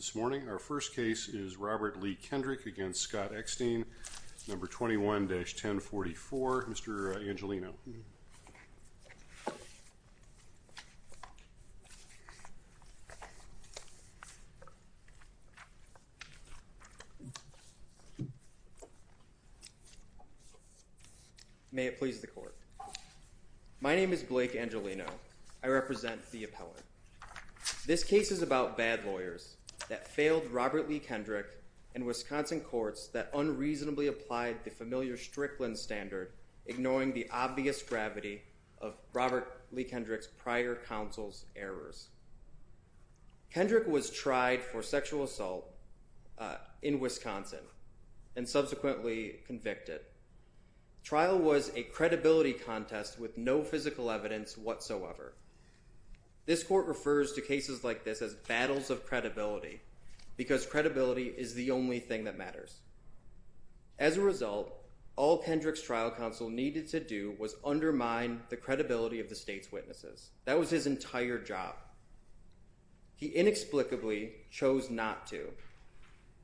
21-1044 Mr. Angelino. May it please the court. My name is Blake Angelino. I represent the appellate. This case is about bad lawyers. Robert Lee-Kendrick and Wisconsin courts that unreasonably applied the familiar Strickland standard ignoring the obvious gravity of Robert Lee-Kendrick's prior counsel's errors. Kendrick was tried for sexual assault in Wisconsin and subsequently convicted. Trial was a credibility contest with no physical evidence whatsoever. This court refers to cases like this as battles of credibility because credibility is the only thing that matters. As a result, all Kendrick's trial counsel needed to do was undermine the credibility of the state's witnesses. That was his entire job. He inexplicably chose not to.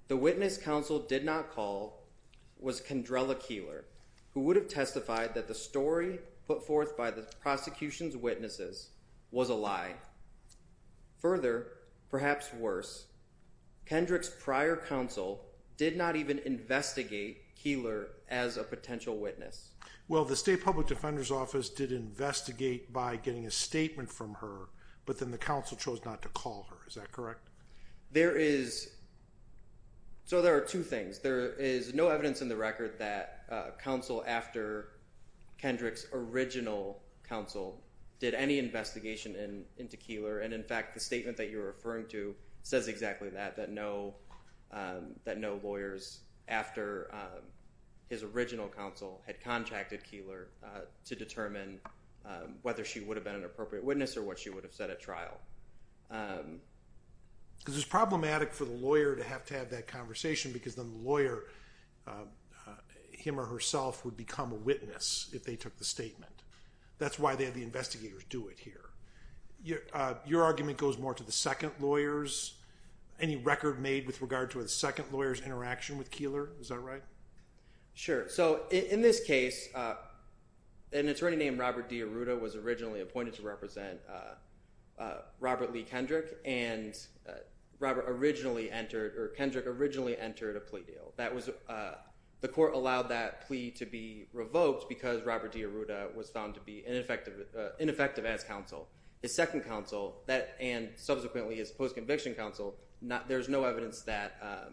The witness counsel did not call was Kendrella Keeler who would have testified that the story put forth by the prosecution's witnesses was a lie. Further, perhaps worse, Kendrick's prior counsel did not even investigate Keeler as a potential witness. Well, the state public defender's office did investigate by getting a statement from her, but then the counsel chose not to call her. Is that correct? There is. So there are two things. There is no evidence in the record that counsel after Kendrick's original counsel did any investigation into Keeler, and in fact, the statement that you're referring to says exactly that, that no lawyers after his original counsel had contracted Keeler to determine whether she would have been an appropriate witness or what she would have said at trial. Because it's problematic for the lawyer to have to have that conversation because then the lawyer, him or herself, would become a witness if they took the statement. That's why they had the investigators do it here. Your argument goes more to the second lawyer's. Any record made with regard to the second lawyer's interaction with Keeler? Is that right? Sure. So in this case, an attorney named Robert D. Arruda was originally appointed to represent Robert Lee Kendrick, and Kendrick originally entered a plea deal. The court allowed that plea to be revoked because Robert D. Arruda was found to be ineffective as counsel. His second counsel, and subsequently his post-conviction counsel, there's no evidence that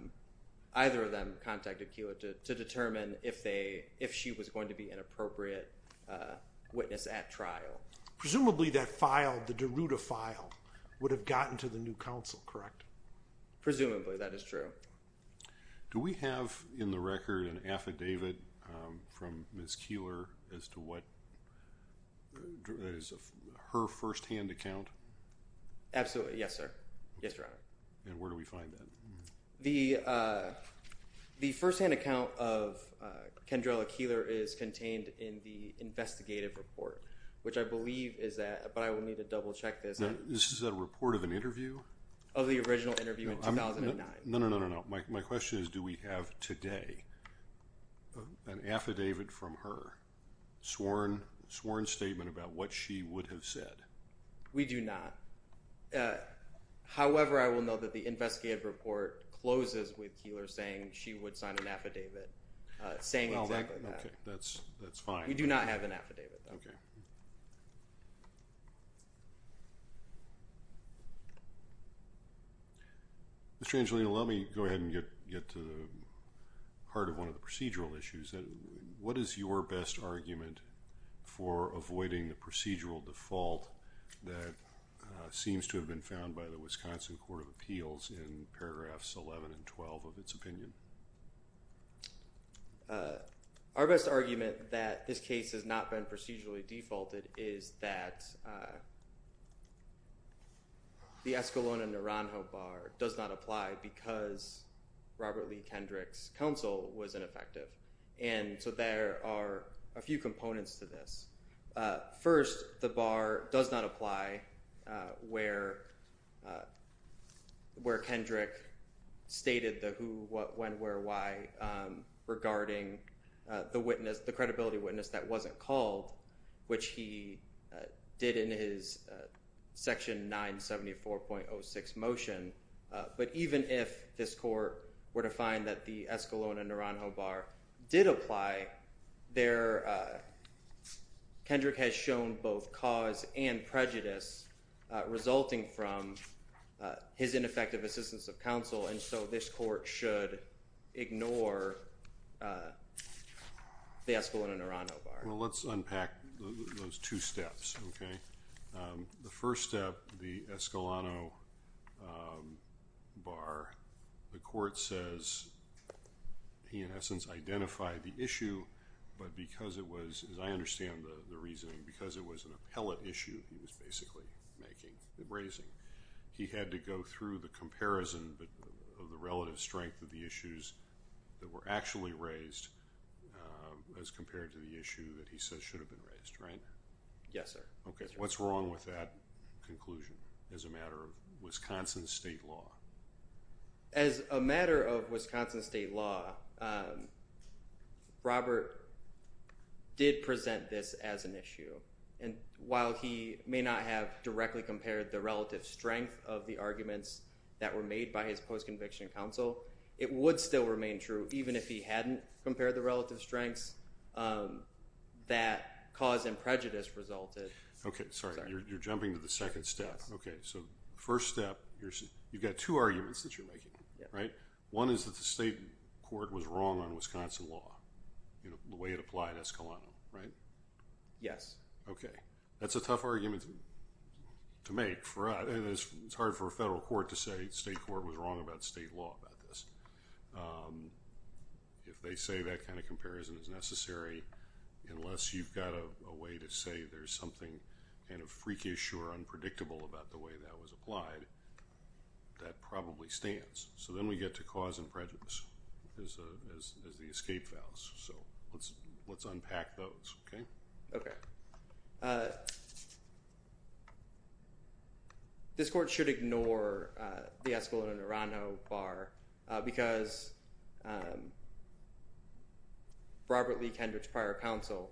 either of them contacted Keeler to determine if she was going to be an appropriate witness at trial. Presumably, that file, the Daruda file, would have gotten to the new counsel, correct? Presumably, that is true. Do we have in the record an affidavit from Ms. Keeler as to what, that is, her firsthand account? Absolutely. Yes, sir. Yes, Your Honor. And where do we find that? The firsthand account of Kendrella Keeler is contained in the investigative report, which I believe is that, but I will need to double check this. This is a report of an interview? Of the original interview in 2009. No, no, no, no, no. My question is, do we have today an affidavit from her, sworn statement about what she would have said? We do not. However, I will note that the investigative report closes with Keeler saying she would sign an affidavit saying exactly that. Okay, that's fine. We do not have an affidavit, though. Mr. Angelino, let me go ahead and get to the heart of one of the procedural issues. What is your best argument for avoiding the procedural default that seems to have been found by the Wisconsin Court of Appeals in paragraphs 11 and 12 of its opinion? Our best argument that this case has not been procedurally defaulted is that the Escalona and Naranjo Bar does not apply because Robert Lee Kendrick's counsel was ineffective, and so there are a few components to this. First, the bar does not apply where Kendrick stated the who, what, when, where, why regarding the witness, the credibility witness that wasn't called, which he did in his section 974.06 motion, but even if this court were to find that the Escalona-Naranjo Bar did apply there, Kendrick has shown both cause and prejudice resulting from his ineffective assistance of counsel, and so this court should ignore the Escalona-Naranjo Bar. Well, let's unpack those two steps, okay? The first step, the Escalona Bar, the court says he in essence identified the issue, but because it was, as I understand the reasoning, because it was an appellate issue he was basically making, raising, he had to go through the comparison of the relative strength of the issues that were actually raised as compared to the issue that he says should have been raised, right? Yes, sir. Okay, what's wrong with that conclusion as a matter of Wisconsin state law? As a matter of Wisconsin state law, Robert did present this as an issue, and while he may not have directly compared the relative strength of the arguments that were made by his post-conviction counsel, it would still remain true even if he hadn't compared the Okay, sorry, you're jumping to the second step. Okay, so first step, you've got two arguments that you're making, right? One is that the state court was wrong on Wisconsin law, the way it applied Escalona, right? Yes. Okay, that's a tough argument to make, and it's hard for a federal court to say state court was wrong about state law about this. If they say that kind of comparison is necessary, unless you've got a way to say there's something kind of freakish or unpredictable about the way that was applied, that probably stands. So then we get to cause and prejudice as the escape vows, so let's unpack those, okay? Okay. This court should ignore the Escalona-Nerano bar because Robert Lee Kendrick's prior counsel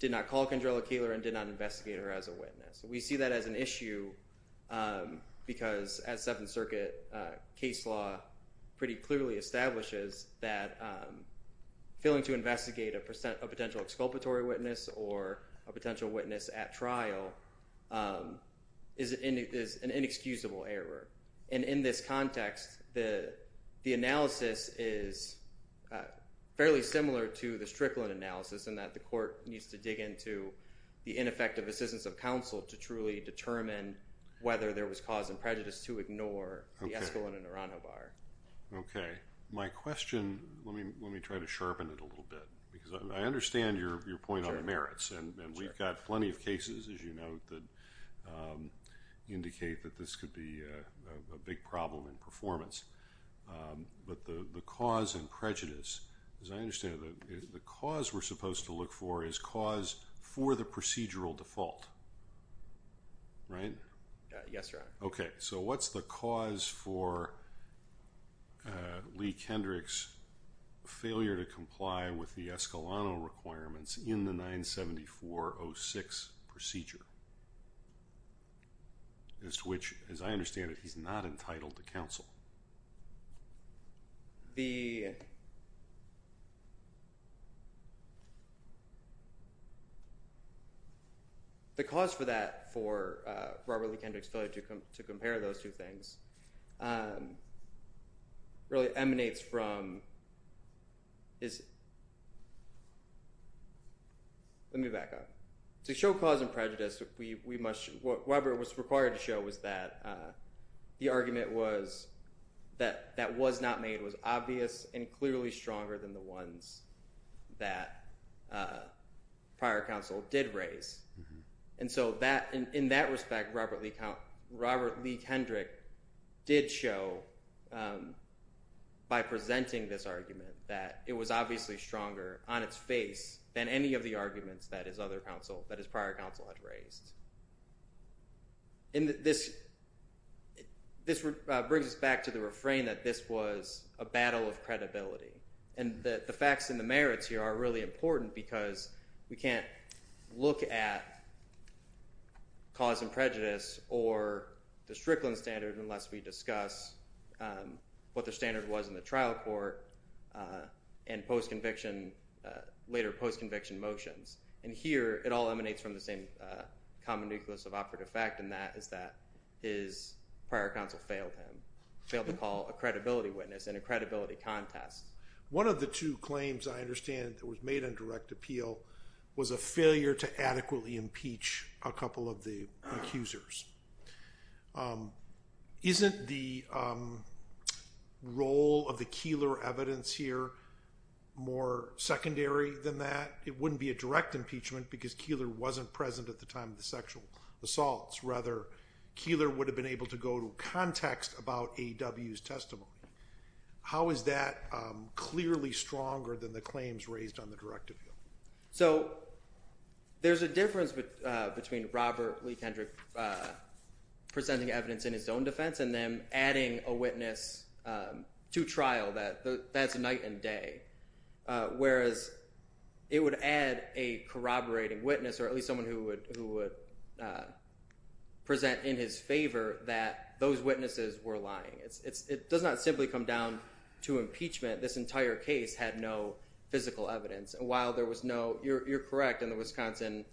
did not call Kendrilla Kaler and did not investigate her as a witness. We see that as an issue because as Seventh Circuit case law pretty clearly establishes that failing to investigate a potential exculpatory witness or a potential witness at trial is an inexcusable error, and in this context, the analysis is fairly similar to the Strickland analysis in that the court needs to dig into the ineffective assistance of counsel to truly determine whether there was cause and prejudice to ignore the Escalona-Nerano bar. Okay. My question, let me try to sharpen it a little bit because I understand your point on the merits, and we've got plenty of cases, as you note, that indicate that this could be a big problem in performance, but the cause and prejudice, as I understand it, the cause we're supposed to look for is cause for the procedural default, right? Yes, Your Honor. Okay. So what's the cause for Lee Kendrick's failure to comply with the Escalona requirements in the 974-06 procedure, as to which, as I understand it, he's not entitled to counsel? The cause for that, for Robert Lee Kendrick's failure to compare those two things, really emanates from, let me back up. To show cause and prejudice, what Weber was required to show was that the argument was that was not made was obvious and clearly stronger than the ones that prior counsel did raise, and so in that respect, Robert Lee Kendrick did show, by presenting this argument, that it was obviously stronger on its face than any of the arguments that his other counsel, that his prior counsel had raised. And this brings us back to the refrain that this was a battle of credibility, and that the facts and the merits here are really important because we can't look at cause and prejudice or the Strickland standard unless we discuss what the standard was in the trial court and later post-conviction motions. And here, it all emanates from the same common nucleus of operative fact, and that is that his prior counsel failed him, failed to call a credibility witness in a credibility contest. One of the two claims, I understand, that was made on direct appeal was a failure to adequately impeach a couple of the accusers. Isn't the role of the Keillor evidence here more secondary than that? It wouldn't be a direct impeachment because Keillor wasn't present at the time of the sexual assaults. Rather, Keillor would have been able to go to context about A.W.'s testimony. How is that clearly stronger than the claims raised on the direct appeal? So there's a difference between Robert Lee Kendrick presenting evidence in his own defense and then adding a witness to trial. That's night and day, whereas it would add a corroborating witness or at least someone who would present in his favor that those witnesses were lying. It does not simply come down to impeachment. This entire case had no physical evidence. And while there was no—you're correct in the Wisconsin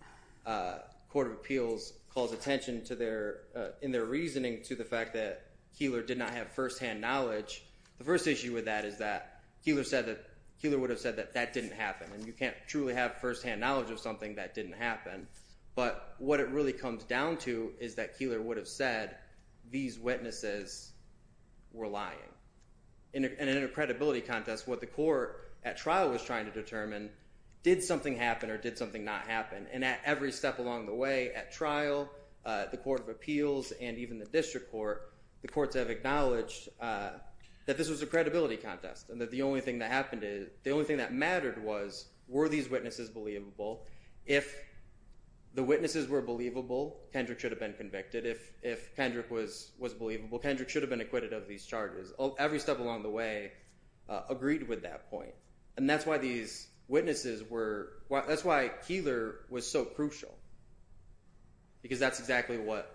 Court of Appeals calls attention to their—in their reasoning to the fact that Keillor did not have firsthand knowledge. The first issue with that is that Keillor said that—Keillor would have said that that didn't happen. And you can't truly have firsthand knowledge of something that didn't happen. But what it really comes down to is that Keillor would have said these witnesses were lying. And in a credibility contest, what the court at trial was trying to determine, did something happen or did something not happen? And at every step along the way at trial, the Court of Appeals and even the district court, the courts have acknowledged that this was a credibility contest and that the only thing that happened is—the only thing that mattered was, were these witnesses believable? If the witnesses were believable, Kendrick should have been convicted. If Kendrick was believable, Kendrick should have been acquitted of these charges. Every step along the way agreed with that point. And that's why these witnesses were—that's why Keillor was so crucial. Because that's exactly what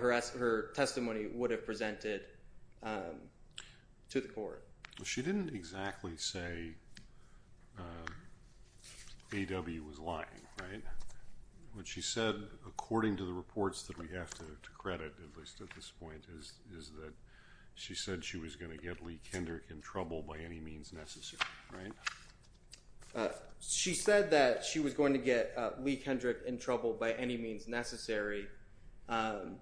her testimony would have presented to the court. She didn't exactly say A.W. was lying, right? What she said, according to the reports that we have to credit, at least at this point, is that she said she was going to get Lee Kendrick in trouble by any means necessary, right? She said that she was going to get Lee Kendrick in trouble by any means necessary, and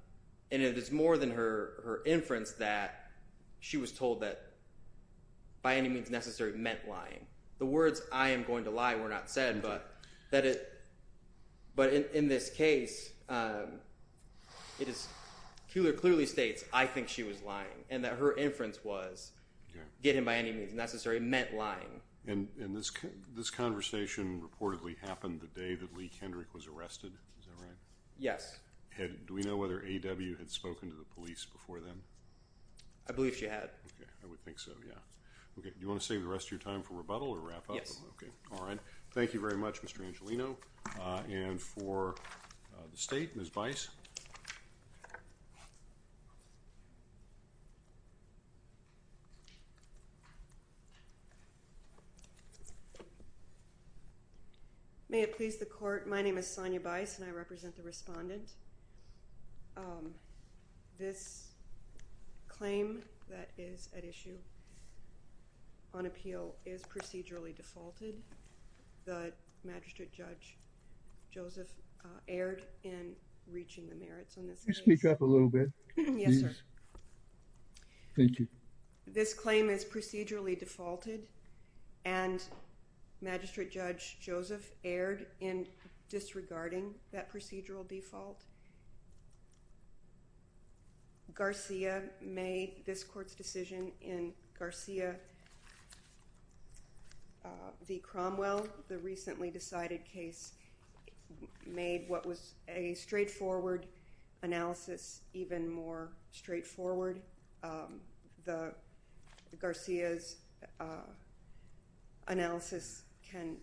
it is more than her inference that she was told that by any means necessary meant lying. The words, I am going to lie, were not said, but in this case, Keillor clearly states, I think she was lying, and that her inference was, get him by any means necessary meant lying. And this conversation reportedly happened the day that Lee Kendrick was arrested, is that right? Yes. Do we know whether A.W. had spoken to the police before then? I believe she had. Okay, I would think so, yeah. Okay, do you want to save the rest of your time for rebuttal or wrap up? Yes. Okay, all right. Thank you very much, Mr. Angelino. And for the state, Ms. Bice. May it please the court, my name is Sonya Bice, and I represent the respondent. This claim that is at issue on appeal is procedurally defaulted. The Magistrate Judge Joseph erred in reaching the merits on this case. Can you speak up a little bit? Yes, sir. Thank you. This claim is procedurally defaulted, and Magistrate Judge Joseph erred in disregarding that procedural default. Garcia made this court's decision in Garcia v. Cromwell. The recently decided case made what was a straightforward analysis even more straightforward. Garcia's analysis can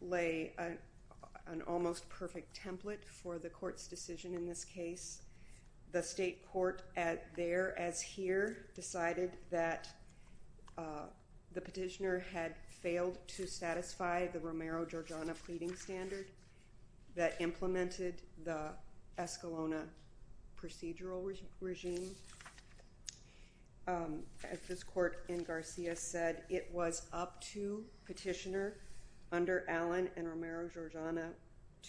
lay an almost perfect template for the court's decision in this case. The state court, there as here, decided that the petitioner had failed to satisfy the Romero-Giorgiana pleading standard that implemented the Escalona procedural regime. As this court in Garcia said, it was up to petitioner under Allen and Romero-Giorgiana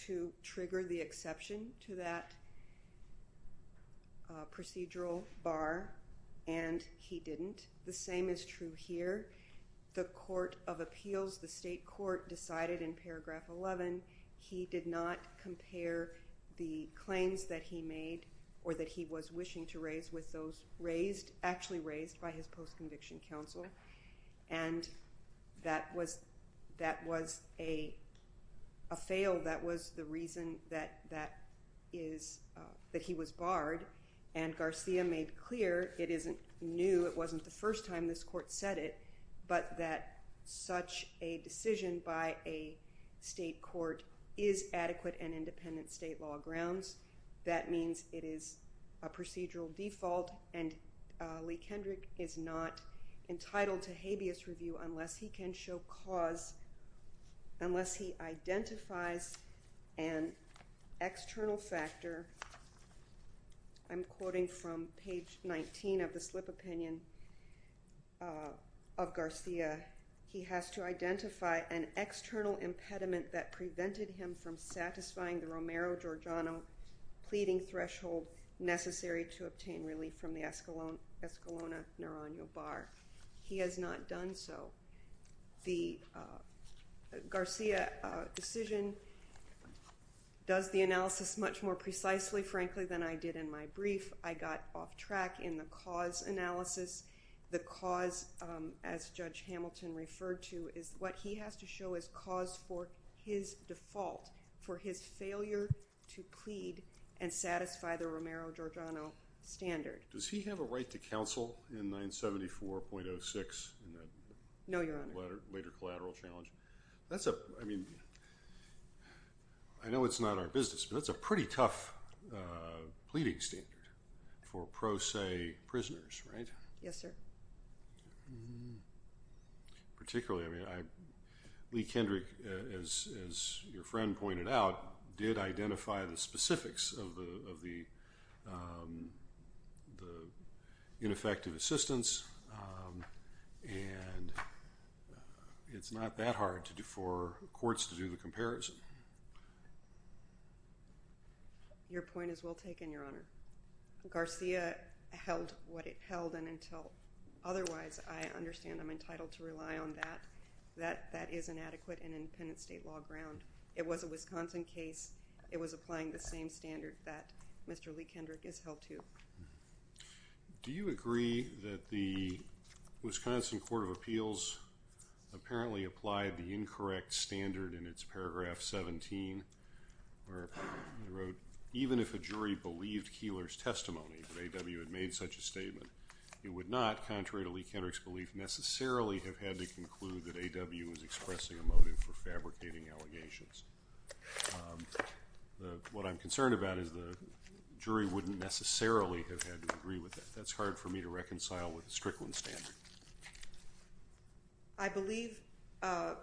to trigger the exception to that procedural bar, and he didn't. The same is true here. The court of appeals, the state court, decided in paragraph 11 he did not compare the claims that he made or that he was wishing to raise with those actually raised by his post-conviction counsel, and that was a fail. That was the reason that he was barred, and Garcia made clear it isn't new. This is the first time this court said it, but that such a decision by a state court is adequate and independent state law grounds. That means it is a procedural default, and Lee Kendrick is not entitled to habeas review unless he can show cause, unless he identifies an external factor. I'm quoting from page 19 of the slip opinion of Garcia. He has to identify an external impediment that prevented him from satisfying the Romero-Giorgiana pleading threshold necessary to obtain relief from the Escalona neuronal bar. He has not done so. The Garcia decision does the analysis much more precisely, frankly, than I did in my brief. I got off track in the cause analysis. The cause, as Judge Hamilton referred to, is what he has to show as cause for his default, for his failure to plead and satisfy the Romero-Giorgiana standard. Does he have a right to counsel in 974.06? No, Your Honor. Later collateral challenge. That's a, I mean, I know it's not our business, but that's a pretty tough pleading standard for pro se prisoners, right? Yes, sir. Particularly, I mean, Lee Kendrick, as your friend pointed out, did identify the specifics of the ineffective assistance, and it's not that hard for courts to do the comparison. Your point is well taken, Your Honor. Garcia held what it held, and until otherwise, I understand I'm entitled to rely on that. That is an adequate and independent state law ground. It was a Wisconsin case. It was applying the same standard that Mr. Lee Kendrick is held to. Do you agree that the Wisconsin Court of Appeals apparently applied the incorrect standard in its paragraph 17, where it wrote, even if a jury believed Keillor's testimony that A.W. had made such a statement, it would not, contrary to Lee Kendrick's belief, necessarily have had to conclude that A.W. was expressing a motive for fabricating allegations. What I'm concerned about is the jury wouldn't necessarily have had to agree with that. That's hard for me to reconcile with the Strickland standard. I believe that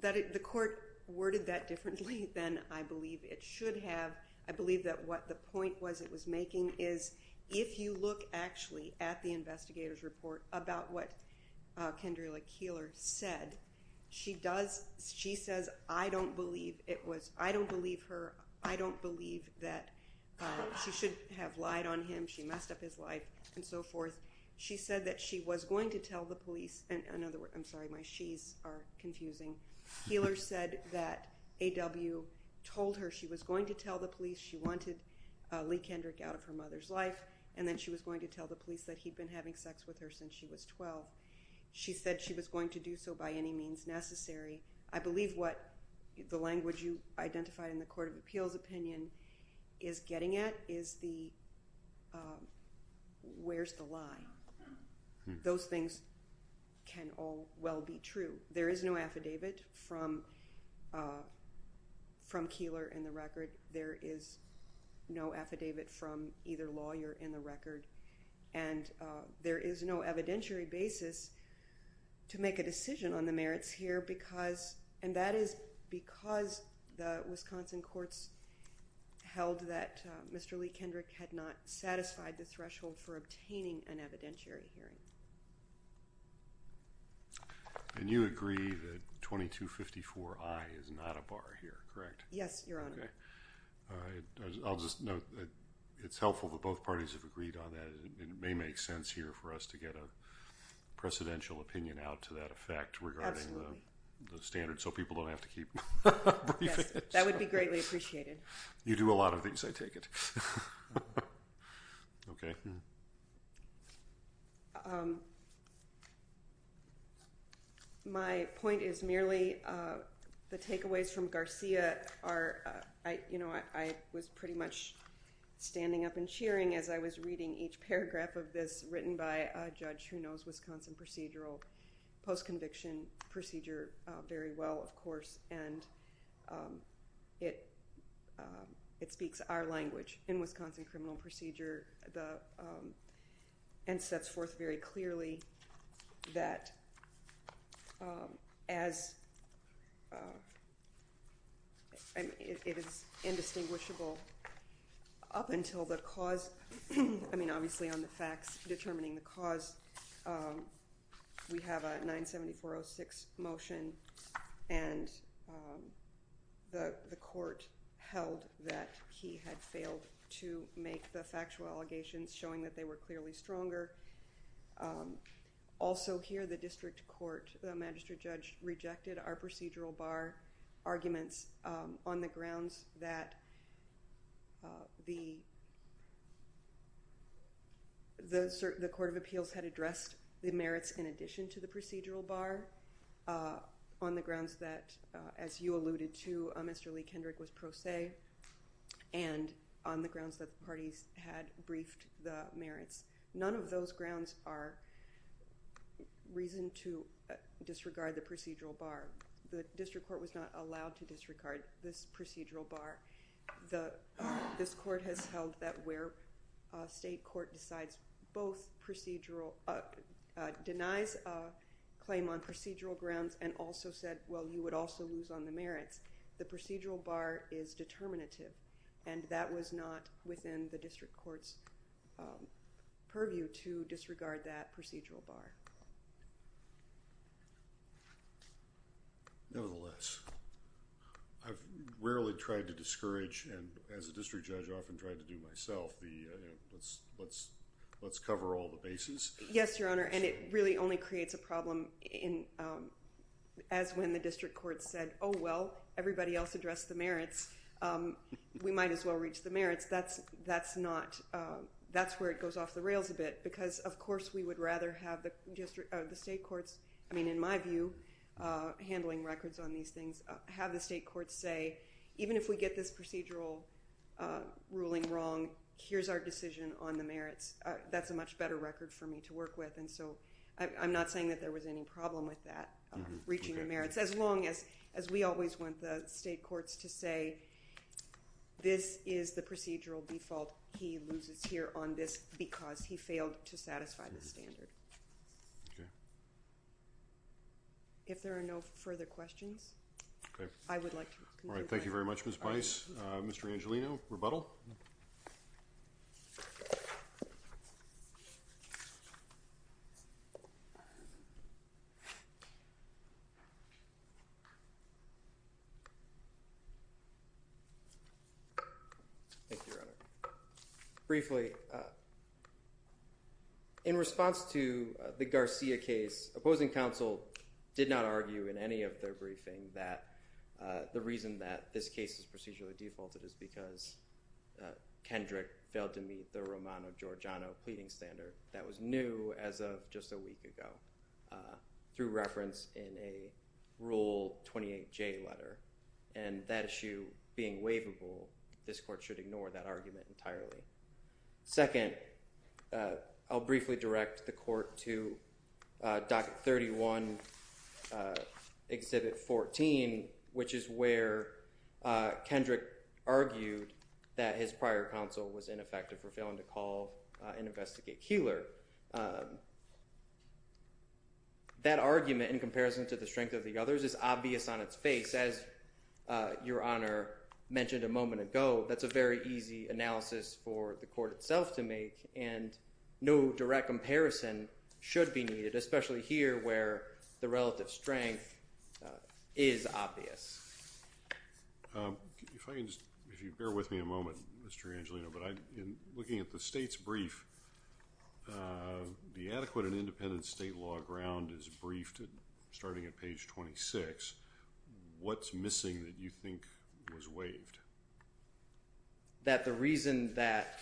the court worded that differently than I believe it should have. I believe that what the point was it was making is if you look actually at the investigator's report about what Kendrilla Keillor said, she says, I don't believe her, I don't believe that she should have lied on him, she messed up his life, and so forth. She said that she was going to tell the police, and I'm sorry, my she's are confusing. Keillor said that A.W. told her she was going to tell the police she wanted Lee Kendrick out of her mother's life, and then she was going to tell the police that he'd been having sex with her since she was 12. She said she was going to do so by any means necessary. I believe what the language you identified in the Court of Appeals opinion is getting at is the where's the lie. Those things can all well be true. There is no affidavit from Keillor in the record. There is no affidavit from either lawyer in the record, and there is no evidentiary basis to make a decision on the merits here, and that is because the Wisconsin courts held that Mr. Lee Kendrick had not satisfied the threshold for obtaining an evidentiary hearing. And you agree that 2254I is not a bar here, correct? Yes, Your Honor. All right. I'll just note that it's helpful that both parties have agreed on that. It may make sense here for us to get a precedential opinion out to that effect regarding the standards so people don't have to keep briefing. Yes, that would be greatly appreciated. You do a lot of things, I take it. Okay. My point is merely the takeaways from Garcia are, you know, I was pretty much standing up and cheering as I was reading each paragraph of this written by a judge who knows Wisconsin procedural post-conviction procedure very well, of course, and it speaks our language. In Wisconsin criminal procedure and sets forth very clearly that as it is indistinguishable up until the cause, I mean obviously on the facts determining the cause, we have a 97406 motion, and the court held that he had failed to make the factual allegations showing that they were clearly stronger. Also here the district court, the magistrate judge rejected our procedural bar arguments on the grounds that the grounds that, as you alluded to, Mr. Lee Kendrick was pro se, and on the grounds that the parties had briefed the merits. None of those grounds are reason to disregard the procedural bar. The district court was not allowed to disregard this procedural bar. This court has held that where state court decides both procedural, denies a claim on procedural grounds and also said, well, you would also lose on the merits, the procedural bar is determinative, and that was not within the district court's purview to disregard that procedural bar. Nevertheless, I've rarely tried to discourage and as a district judge often tried to do myself, let's cover all the bases. Yes, Your Honor, and it really only creates a problem as when the district court said, oh, well, everybody else addressed the merits, we might as well reach the merits. That's where it goes off the rails a bit because, of course, we would rather have the state courts, I mean, in my view, handling records on these things, have the state courts say, even if we get this procedural ruling wrong, here's our decision on the merits. That's a much better record for me to work with, and so I'm not saying that there was any problem with that, reaching the merits, as long as we always want the state courts to say this is the procedural default, he loses here on this because he failed to satisfy the standard. If there are no further questions, I would like to conclude. All right. Thank you very much, Ms. Bice. Mr. Angelino, rebuttal. Briefly, in response to the Garcia case, opposing counsel did not argue in any of their briefing that the reason that this case is procedurally defaulted is because Kendrick failed to meet the Romano-Giorgiano pleading standard that was new as of just a week ago through reference in a Rule 28J letter, and that issue being waivable, this court should ignore that argument entirely. Second, I'll briefly direct the court to Docket 31, Exhibit 14, which is where Kendrick argued that his prior counsel was ineffective for failing to call and investigate Keillor. That argument, in comparison to the strength of the others, is obvious on its face. As Your Honor mentioned a moment ago, that's a very easy analysis for the court itself to make, and no direct comparison should be needed, especially here where the relative strength is obvious. If you bear with me a moment, Mr. Angelino, but looking at the state's brief, the adequate and independent state law ground is briefed starting at page 26. What's missing that you think was waived? That the reason that,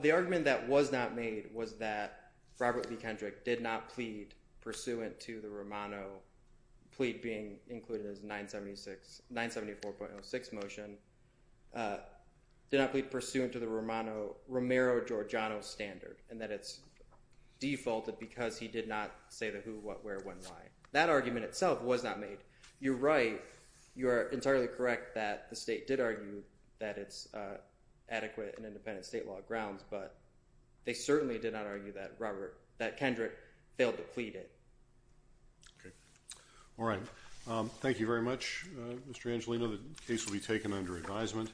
the argument that was not made was that Robert B. Kendrick did not plead pursuant to the Romano plea being included in his 974.06 motion, did not plead pursuant to the Romero-Giorgiano standard, and that it's defaulted because he did not say the who, what, where, when, why. That argument itself was not made. You're right, you are entirely correct that the state did argue that it's adequate and independent state law grounds, but they certainly did not argue that Robert, that Kendrick failed to plead it. Okay. All right. Thank you very much, Mr. Angelino. The case will be taken under advisement.